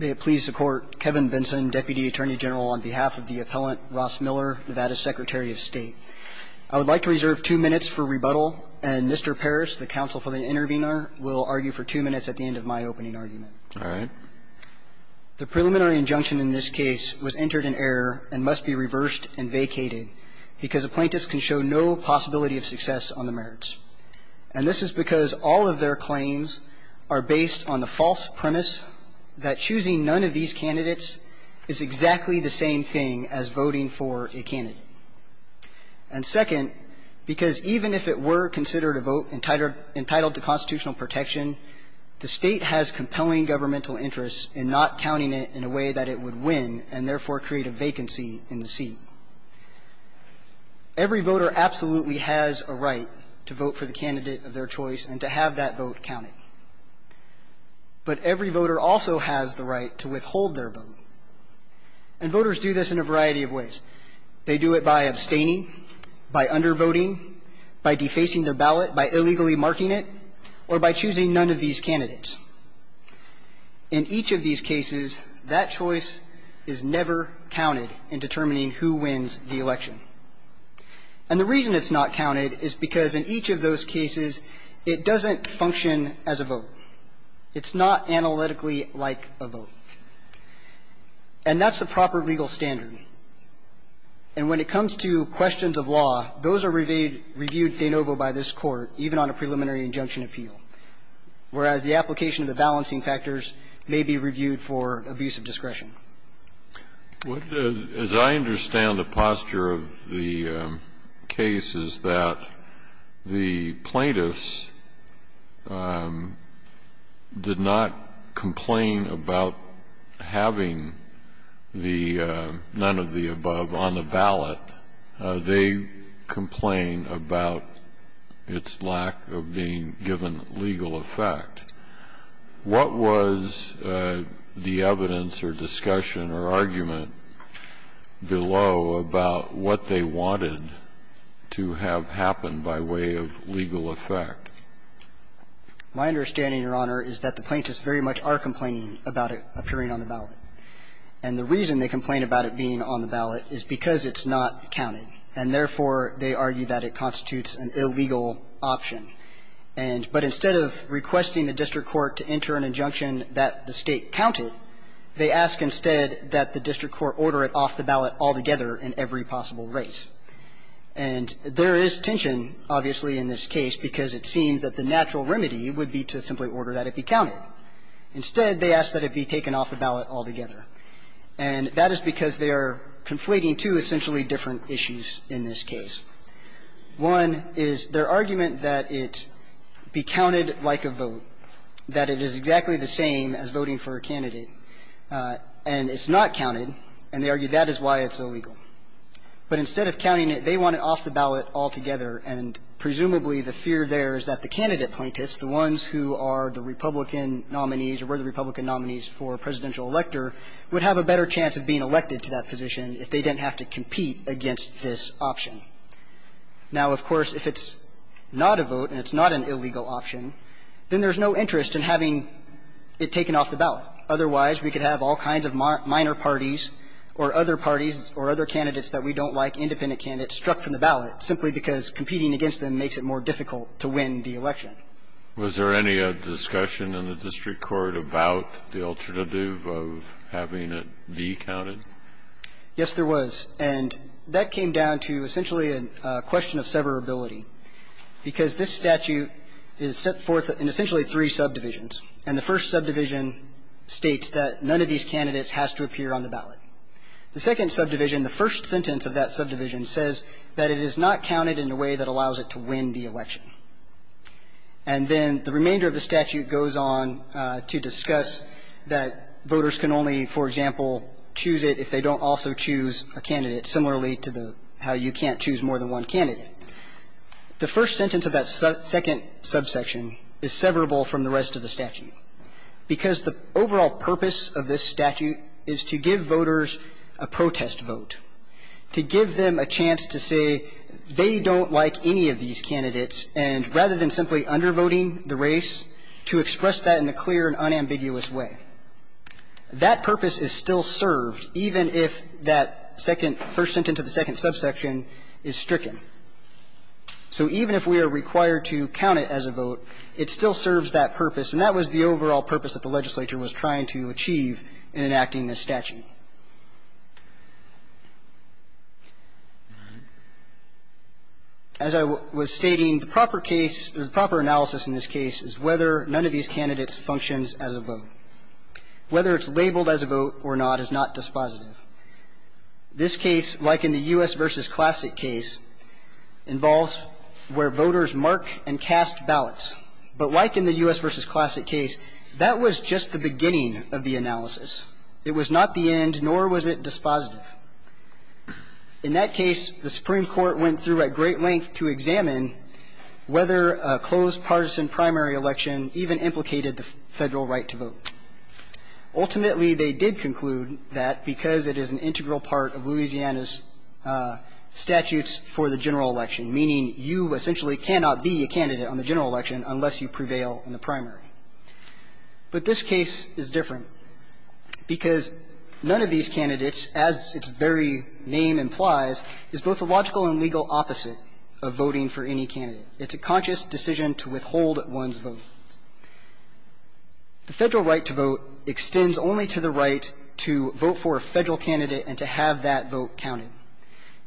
May it please the Court, Kevin Benson, Deputy Attorney General, on behalf of the appellant, Ross Miller, Nevada Secretary of State. I would like to reserve two minutes for rebuttal, and Mr. Parrish, the counsel for the intervener, will argue for two minutes at the end of my opening argument. All right. The preliminary injunction in this case was entered in error and must be reversed and vacated because the plaintiffs can show no possibility of success on the merits. And this is because all of their claims are based on the false premise that choosing none of these candidates is exactly the same thing as voting for a candidate. And second, because even if it were considered a vote entitled to constitutional protection, the State has compelling governmental interests in not counting it in a way that it would win and therefore create a vacancy in the seat. Every voter absolutely has a right to vote for the candidate of their choice and to have that vote counted. But every voter also has the right to withhold their vote. And voters do this in a variety of ways. They do it by abstaining, by undervoting, by defacing their ballot, by illegally marking it, or by choosing none of these candidates. In each of these cases, that choice is never counted in determining who wins the election. And the reason it's not counted is because in each of those cases, it doesn't function as a vote. It's not analytically like a vote. And that's the proper legal standard. And when it comes to questions of law, those are reviewed de novo by this Court, even on a preliminary injunction appeal. Whereas the application of the balancing factors may be reviewed for abuse of discretion. Kennedy, as I understand the posture of the case, is that the plaintiffs did not complain about having the none of the above on the ballot. They complain about its lack of being given legal effect. What was the evidence or discussion or argument below about what they wanted to have happened by way of legal effect? My understanding, Your Honor, is that the plaintiffs very much are complaining about it appearing on the ballot. And the reason they complain about it being on the ballot is because it's not counted. And therefore, they argue that it constitutes an illegal option. And but instead of requesting the district court to enter an injunction that the State counted, they ask instead that the district court order it off the ballot altogether in every possible race. And there is tension, obviously, in this case, because it seems that the natural remedy would be to simply order that it be counted. Instead, they ask that it be taken off the ballot altogether. And that is because they are conflating two essentially different issues in this case. One is their argument that it be counted like a vote, that it is exactly the same as voting for a candidate, and it's not counted, and they argue that is why it's illegal. But instead of counting it, they want it off the ballot altogether, and presumably the fear there is that the candidate plaintiffs, the ones who are the Republican nominees or were the Republican nominees for presidential elector, would have a better chance of being elected to that position if they didn't have to compete against this option. Now, of course, if it's not a vote and it's not an illegal option, then there's no interest in having it taken off the ballot. Otherwise, we could have all kinds of minor parties or other parties or other candidates that we don't like, independent candidates, struck from the ballot simply because it's more difficult to win the election. Kennedy, was there any discussion in the district court about the alternative of having it be counted? Yes, there was. And that came down to essentially a question of severability, because this statute is set forth in essentially three subdivisions, and the first subdivision states that none of these candidates has to appear on the ballot. The second subdivision, the first sentence of that subdivision says that it is not counted in a way that allows it to win the election. And then the remainder of the statute goes on to discuss that voters can only, for example, choose it if they don't also choose a candidate, similarly to the how you can't choose more than one candidate. The first sentence of that second subsection is severable from the rest of the statute, because the overall purpose of this statute is to give voters a protest vote, to give them a chance to say they don't like any of these candidates, and rather than simply undervoting the race, to express that in a clear and unambiguous way. That purpose is still served, even if that second – first sentence of the second subsection is stricken. So even if we are required to count it as a vote, it still serves that purpose, and that was the overall purpose that the legislature was trying to achieve in enacting this statute. As I was stating, the proper case or the proper analysis in this case is whether none of these candidates functions as a vote. Whether it's labeled as a vote or not is not dispositive. This case, like in the U.S. v. Classic case, involves where voters mark and cast ballots. But like in the U.S. v. Classic case, that was just the beginning of the analysis. It was not the end, nor was it dispositive. In that case, the Supreme Court went through at great length to examine whether a closed partisan primary election even implicated the Federal right to vote. Ultimately, they did conclude that because it is an integral part of Louisiana's statutes for the general election, meaning you essentially cannot be a candidate on the general election unless you prevail in the primary. But this case is different. Because none of these candidates, as its very name implies, is both a logical and legal opposite of voting for any candidate. It's a conscious decision to withhold one's vote. The Federal right to vote extends only to the right to vote for a Federal candidate and to have that vote counted.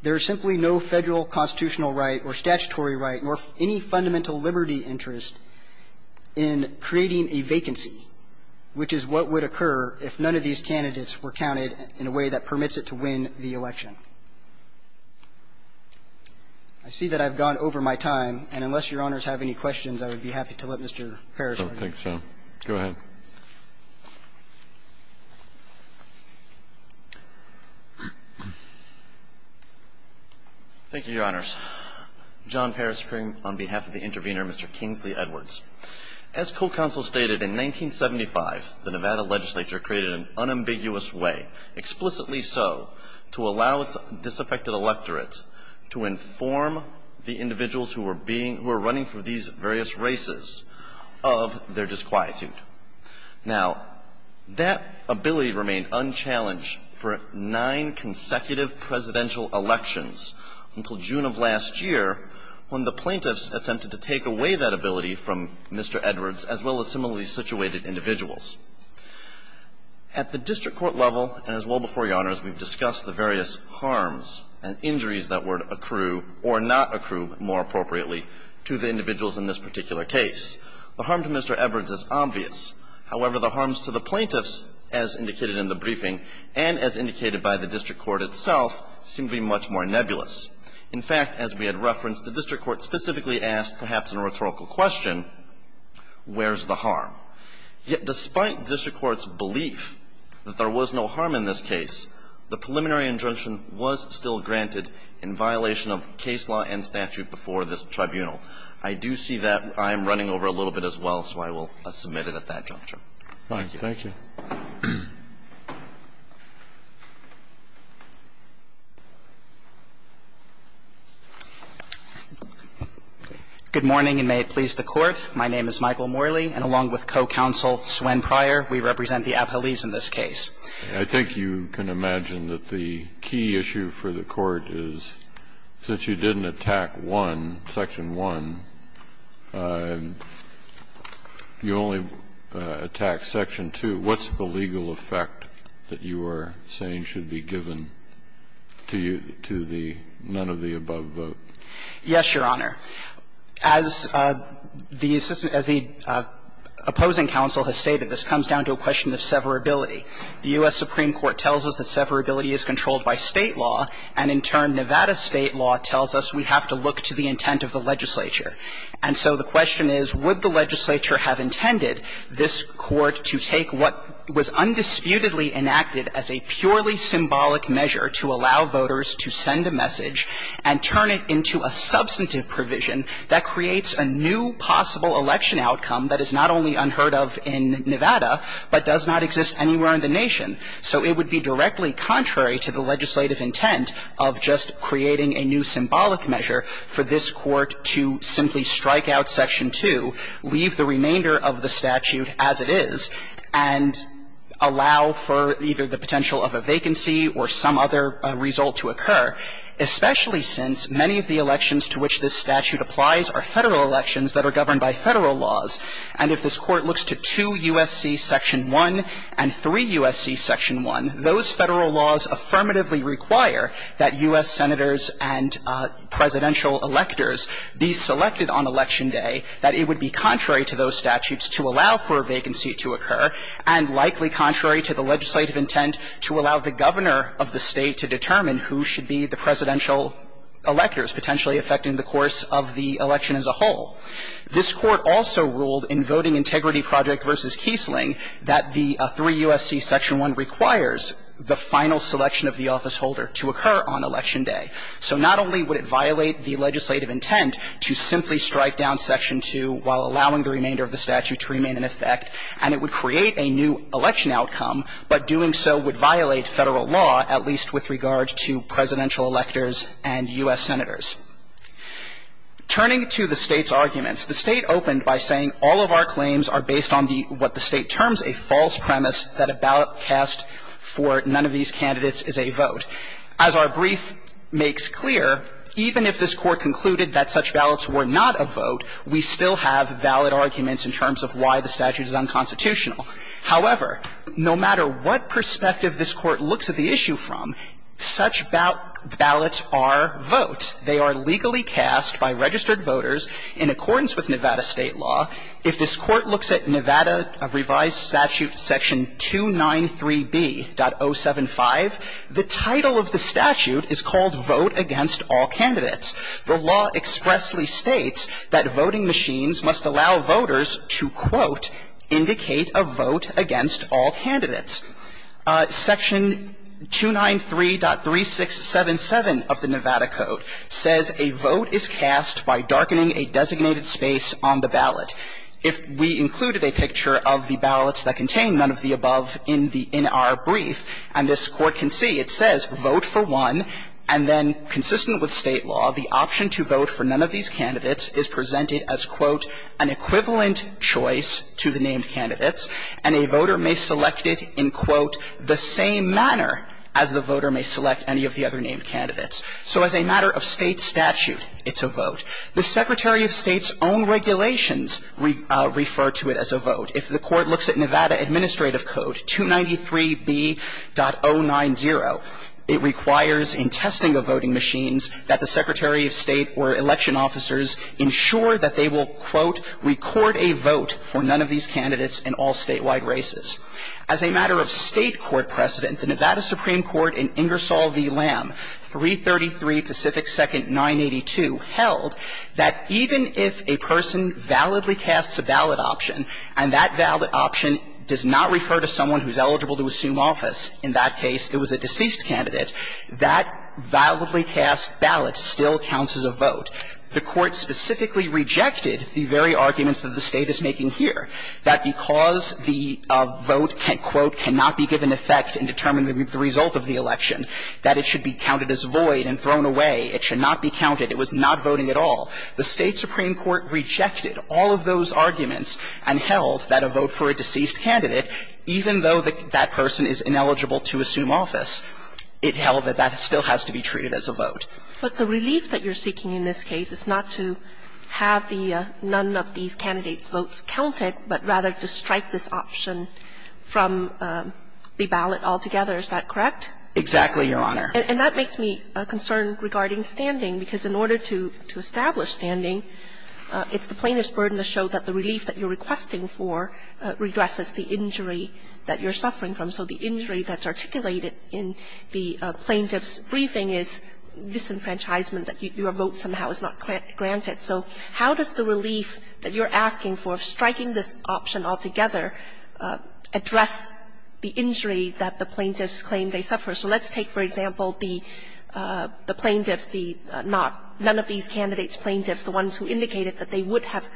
There is simply no Federal constitutional right or statutory right nor any fundamental liberty interest in creating a vacancy, which is what would occur if none of these candidates were counted in a way that permits it to win the election. I see that I've gone over my time. And unless Your Honors have any questions, I would be happy to let Mr. Parrish argue. Kennedy. Go ahead. Thank you, Your Honors. John Parrish, appearing on behalf of the intervener, Mr. Kingsley Edwards. As co-counsel stated, in 1975, the Nevada legislature created an unambiguous way, explicitly so, to allow its disaffected electorate to inform the individuals who were being — who were running for these various races of their disquietude. Now, that ability remained unchallenged for nine consecutive presidential elections until June of last year, when the plaintiffs attempted to take away that ability from Mr. Edwards, as well as similarly situated individuals. At the district court level, and as well before Your Honors, we've discussed the various harms and injuries that were to accrue or not accrue, more appropriately, to the individuals in this particular case. The harm to Mr. Edwards is obvious. However, the harms to the plaintiffs, as indicated in the briefing, and as indicated by the district court itself, seem to be much more nebulous. In fact, as we had referenced, the district court specifically asked, perhaps in a rhetorical question, where's the harm? Yet despite district court's belief that there was no harm in this case, the preliminary injunction was still granted in violation of case law and statute before this tribunal. I do see that I am running over a little bit as well, so I will submit it at that juncture. Thank you. Thank you. Good morning, and may it please the Court. My name is Michael Morley, and along with co-counsel Swann Pryor, we represent the appellees in this case. I think you can imagine that the key issue for the Court is, since you didn't attack one, Section 1, you only attacked Section 2, what's the legal effect that you are saying should be given to you, to the none of the above vote? Yes, Your Honor. As the opposing counsel has stated, this comes down to a question of severability. The U.S. Supreme Court tells us that severability is controlled by State law, and in turn, Nevada State law tells us we have to look to the intent of the legislature. And so the question is, would the legislature have intended this Court to take what was undisputedly enacted as a purely symbolic measure to allow voters to send a message and turn it into a substantive provision that creates a new possible election outcome that is not only unheard of in Nevada, but does not exist anywhere in the nation, so it would be directly contrary to the legislative intent of just creating a new symbolic measure for this Court to simply strike out Section 2, leave the remainder of the statute as it is, and allow for either the potential of a vacancy or some other result to occur, especially since many of the elections to which this statute applies are Federal elections that are governed by Federal laws. And if this Court looks to 2 U.S.C. Section 1 and 3 U.S.C. Section 1, those Federal laws affirmatively require that U.S. Senators and presidential electors be selected on election day, that it would be contrary to those statutes to allow for a vacancy to occur, and likely contrary to the legislative intent to allow the governor of the State to determine who should be the presidential electors potentially affecting the course of the election as a whole. This Court also ruled in Voting Integrity Project v. Kiesling that the 3 U.S.C. Section 1 requires the final selection of the officeholder to occur on election day. So not only would it violate the legislative intent to simply strike down Section 2 while allowing the remainder of the statute to remain in effect, and it would create a new election outcome, but doing so would violate Federal law, at least with regard to presidential electors and U.S. Senators. Turning to the State's arguments, the State opened by saying all of our claims are based on the what the State terms a false premise that a ballot cast for none of these candidates is a vote. As our brief makes clear, even if this Court concluded that such ballots were not a vote, we still have valid arguments in terms of why the statute is unconstitutional. However, no matter what perspective this Court looks at the issue from, such ballots are votes. They are legally cast by registered voters in accordance with Nevada State law. If this Court looks at Nevada Revised Statute Section 293B.075, the title of the statute is called Vote Against All Candidates. The law expressly states that voting machines must allow voters to, quote, indicate a vote against all candidates. Section 293.3677 of the Nevada Code says a vote is cast by darkening a designated space on the ballot. If we included a picture of the ballots that contain none of the above in the NR brief, and this Court can see, it says vote for one, and then consistent with State law, the option to vote for none of these candidates is presented as, quote, an equivalent choice to the named candidates, and a voter may select it in, quote, the same manner as the voter may select any of the other named candidates. So as a matter of State statute, it's a vote. The Secretary of State's own regulations refer to it as a vote. If the Court looks at Nevada Administrative Code 293B.090, it requires in testing of voting machines that the Secretary of State or election officers ensure that they will, quote, record a vote for none of these candidates in all statewide races. As a matter of State court precedent, the Nevada Supreme Court in Ingersoll v. Lamb, 333 Pacific 2nd 982, held that even if a person validly casts a ballot option, and that ballot option does not refer to someone who is eligible to assume office in that case, it was a deceased candidate, that validly cast ballot still counts as a vote. The Court specifically rejected the very arguments that the State is making here, that because the vote can, quote, cannot be given effect in determining the result of the election, that it should be counted as void and thrown away, it should not be counted, it was not voting at all. The State Supreme Court rejected all of those arguments and held that a vote for a deceased candidate, even though that person is ineligible to assume office, it held that that still has to be treated as a vote. Kagan. But the relief that you're seeking in this case is not to have the none of these candidate votes counted, but rather to strike this option from the ballot altogether, is that correct? Exactly, Your Honor. And that makes me concerned regarding standing, because in order to establish standing, it's the plaintiff's burden to show that the relief that you're requesting for redresses the injury that you're suffering from. So the injury that's articulated in the plaintiff's briefing is disenfranchisement, that your vote somehow is not granted. So how does the relief that you're asking for, striking this option altogether, address the injury that the plaintiffs claim they suffer? So let's take, for example, the plaintiffs, the not – none of these candidates' plaintiffs, the ones who indicated that they would have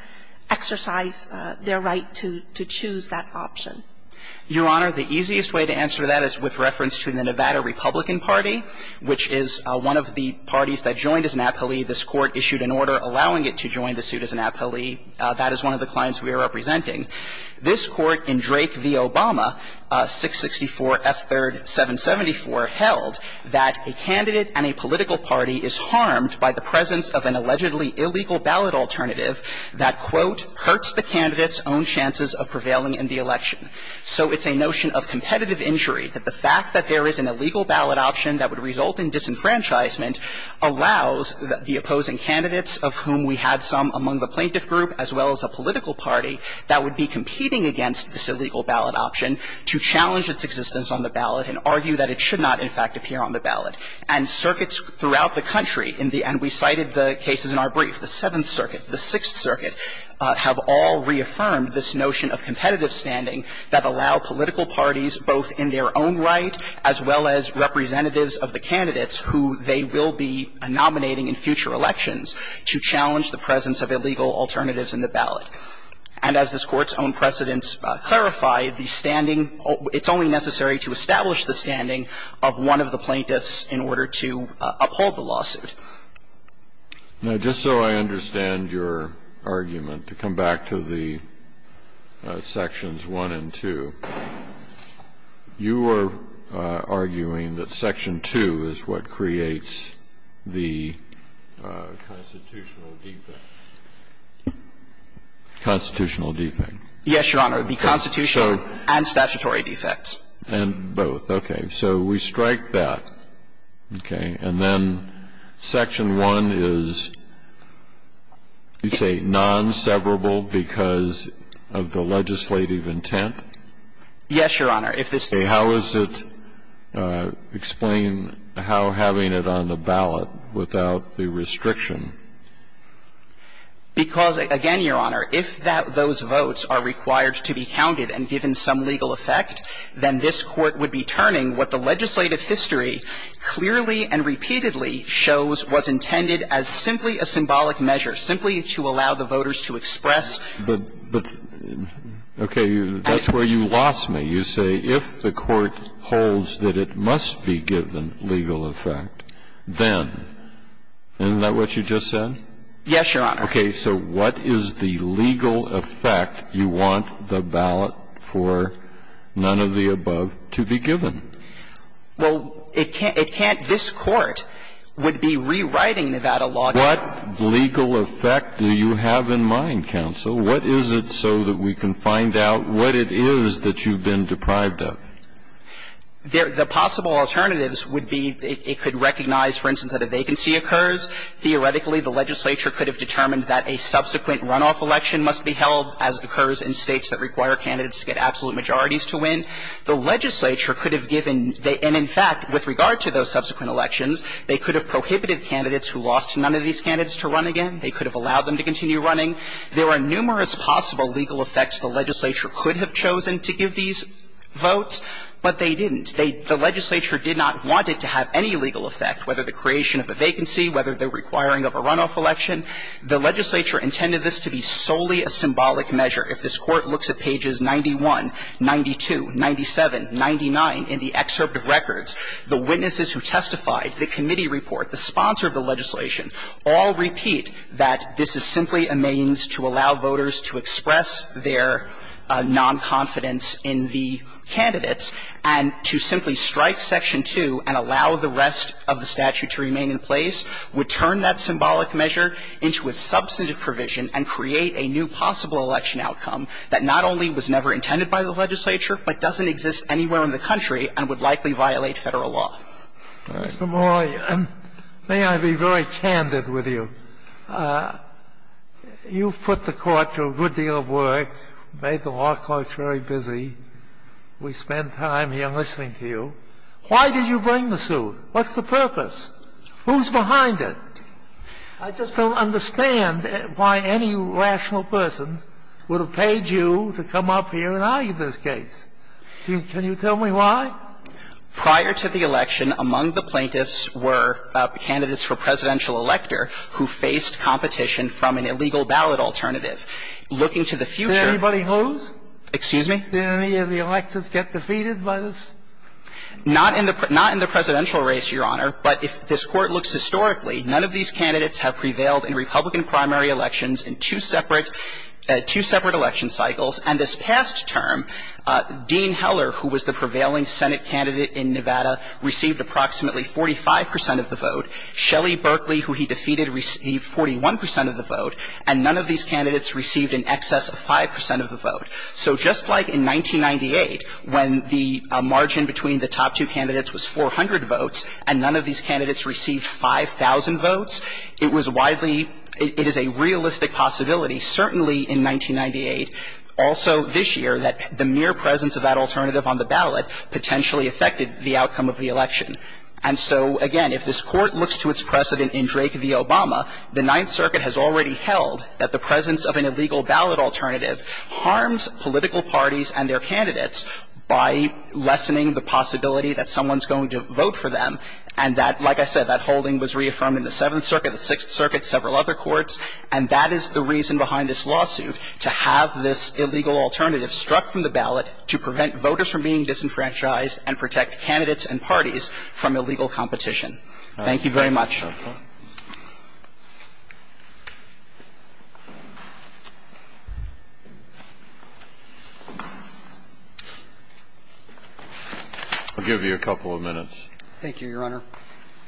exercised their right to choose that option. Your Honor, the easiest way to answer that is with reference to the Nevada Republican Party, which is one of the parties that joined as an appellee. This Court issued an order allowing it to join the suit as an appellee. That is one of the clients we are representing. This Court in Drake v. Obama, 664 F. 3rd 774, held that a candidate and a political party is harmed by the presence of an allegedly illegal ballot alternative that, quote, hurts the candidate's own chances of prevailing in the election. So it's a notion of competitive injury, that the fact that there is an illegal ballot option that would result in disenfranchisement allows the opposing candidates, of whom we had some among the plaintiff group, as well as a political party, that would be competing against this illegal ballot option to challenge its existence on the ballot and argue that it should not, in fact, appear on the ballot. And circuits throughout the country in the – and we cited the cases in our brief, the Seventh Circuit, the Sixth Circuit, have all reaffirmed this notion of competitive standing that allow political parties, both in their own right as well as representatives of the candidates who they will be nominating in future elections, to challenge the presence of illegal alternatives in the ballot. And as this Court's own precedents clarify, the standing – it's only necessary to establish the standing of one of the plaintiffs in order to uphold the lawsuit. Now, just so I understand your argument, to come back to the sections 1 and 2, you were arguing that section 2 is what creates the constitutional defect. Constitutional defect. Yes, Your Honor. The constitutional and statutory defects. And both. Okay. So we strike that, okay? And then section 1 is, you say, non-severable because of the legislative intent? Yes, Your Honor. If this – Okay. How is it – explain how having it on the ballot without the restriction? Because, again, Your Honor, if that – those votes are required to be counted and given some legal effect, then this Court would be turning what the legislative history clearly and repeatedly shows was intended as simply a symbolic measure, simply to allow the voters to express the – But, okay, that's where you lost me. You say, if the Court holds that it must be given legal effect, then, isn't that what you just said? Yes, Your Honor. Okay. So what is the legal effect you want the ballot for none of the above to be given? Well, it can't – this Court would be rewriting Nevada law to be able to do that. What legal effect do you have in mind, counsel? What is it so that we can find out what it is that you've been deprived of? The possible alternatives would be it could recognize, for instance, that a vacancy occurs. Theoretically, the legislature could have determined that a subsequent runoff election must be held, as occurs in States that require candidates to get absolute majorities to win. The legislature could have given – and, in fact, with regard to those subsequent elections, they could have prohibited candidates who lost to none of these candidates to run again. They could have allowed them to continue running. There are numerous possible legal effects the legislature could have chosen to give these votes, but they didn't. They – the legislature did not want it to have any legal effect, whether the creation of a vacancy, whether the requiring of a runoff election. The legislature intended this to be solely a symbolic measure. If this Court looks at pages 91, 92, 97, 99 in the excerpt of records, the witnesses who testified, the committee report, the sponsor of the legislation, all repeat that this is simply a means to allow voters to express their nonconfidence in the candidates and to simply strike Section 2 and allow the rest of the statute to remain in place, would turn that symbolic measure into a substantive provision and create a new possible election outcome that not only was never intended by the legislature, but doesn't exist anywhere in the country and would likely violate Federal law. Sotomayor, may I be very candid with you? You've put the Court to a good deal of work, made the law courts very busy. We spend time here listening to you. Why did you bring the suit? What's the purpose? Who's behind it? I just don't understand why any rational person would have paid you to come up here and argue this case. Can you tell me why? Prior to the election, among the plaintiffs were candidates for presidential elector who faced competition from an illegal ballot alternative. Looking to the future of the case, the plaintiffs were candidates for presidential elector who faced competition from an illegal ballot alternative. I'm not going to go into the details of the case, Your Honor, but if this Court looks historically, none of these candidates have prevailed in Republican primary elections in two separate election cycles. And this past term, Dean Heller, who was the prevailing Senate candidate in Nevada, received approximately 45 percent of the vote. Shelley Berkeley, who he defeated, received 41 percent of the vote. And none of these candidates received in excess of 5 percent of the vote. So just like in 1998, when the margin between the top two candidates was 400 votes and none of these candidates received 5,000 votes, it was widely – it is a realistic possibility, certainly in 1998, also this year, that the mere presence of that alternative on the ballot potentially affected the outcome of the election. And so, again, if this Court looks to its precedent in Drake v. Obama, the Ninth and their candidates by lessening the possibility that someone's going to vote for them, and that, like I said, that holding was reaffirmed in the Seventh Circuit, the Sixth Circuit, several other courts, and that is the reason behind this lawsuit, to have this illegal alternative struck from the ballot to prevent voters from being disenfranchised and protect candidates and parties from illegal competition. Thank you very much. I'll give you a couple of minutes. Thank you, Your Honor.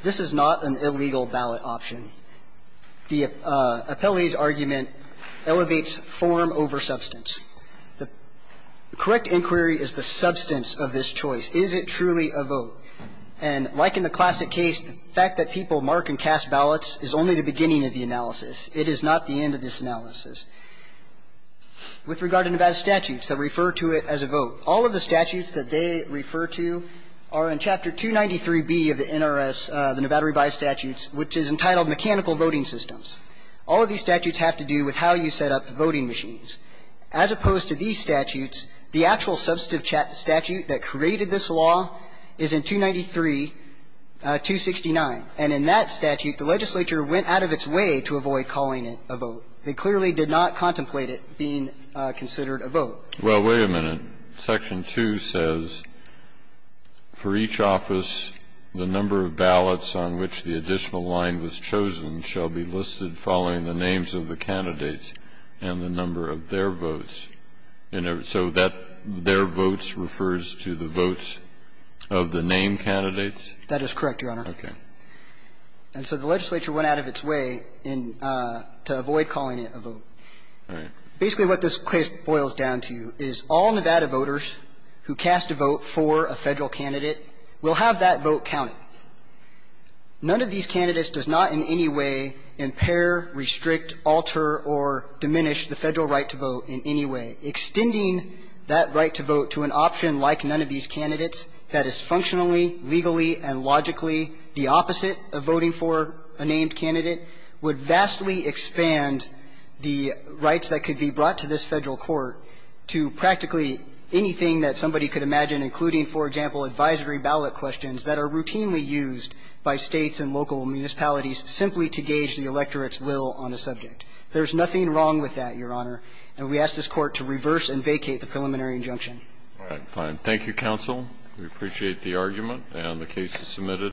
This is not an illegal ballot option. The appellee's argument elevates form over substance. The correct inquiry is the substance of this choice. Is it truly a vote? And like in the classic case, the fact that people mark and cast ballots is only the beginning of the analysis. It is not the end of this analysis. With regard to Nevada statutes that refer to it as a vote, all of the statutes that they refer to are in Chapter 293B of the NRS, the Nevada Revised Statutes, which is entitled Mechanical Voting Systems. All of these statutes have to do with how you set up voting machines. As opposed to these statutes, the actual substantive statute that created this law is in 293.269. And in that statute, the legislature went out of its way to avoid calling it a vote. They clearly did not contemplate it being considered a vote. Well, wait a minute. Section 2 says, For each office, the number of ballots on which the additional line was chosen shall be listed following the names of the candidates and the number of their votes. And so that their votes refers to the votes of the name candidates? That is correct, Your Honor. Okay. And so the legislature went out of its way in to avoid calling it a vote. All right. Basically, what this case boils down to is all Nevada voters who cast a vote for a Federal candidate will have that vote counted. None of these candidates does not in any way impair, restrict, alter, or diminish the Federal right to vote in any way. Extending that right to vote to an option like none of these candidates that is functionally, legally, and logically the opposite of voting for a named candidate would vastly expand the rights that could be brought to this Federal court to practically anything that somebody could imagine, including, for example, advisory ballot questions that are routinely used by States and local municipalities simply to gauge the electorate's will on a subject. There's nothing wrong with that, Your Honor. And we ask this Court to reverse and vacate the preliminary injunction. All right. Fine. Thank you, counsel. We appreciate the argument and the case is submitted.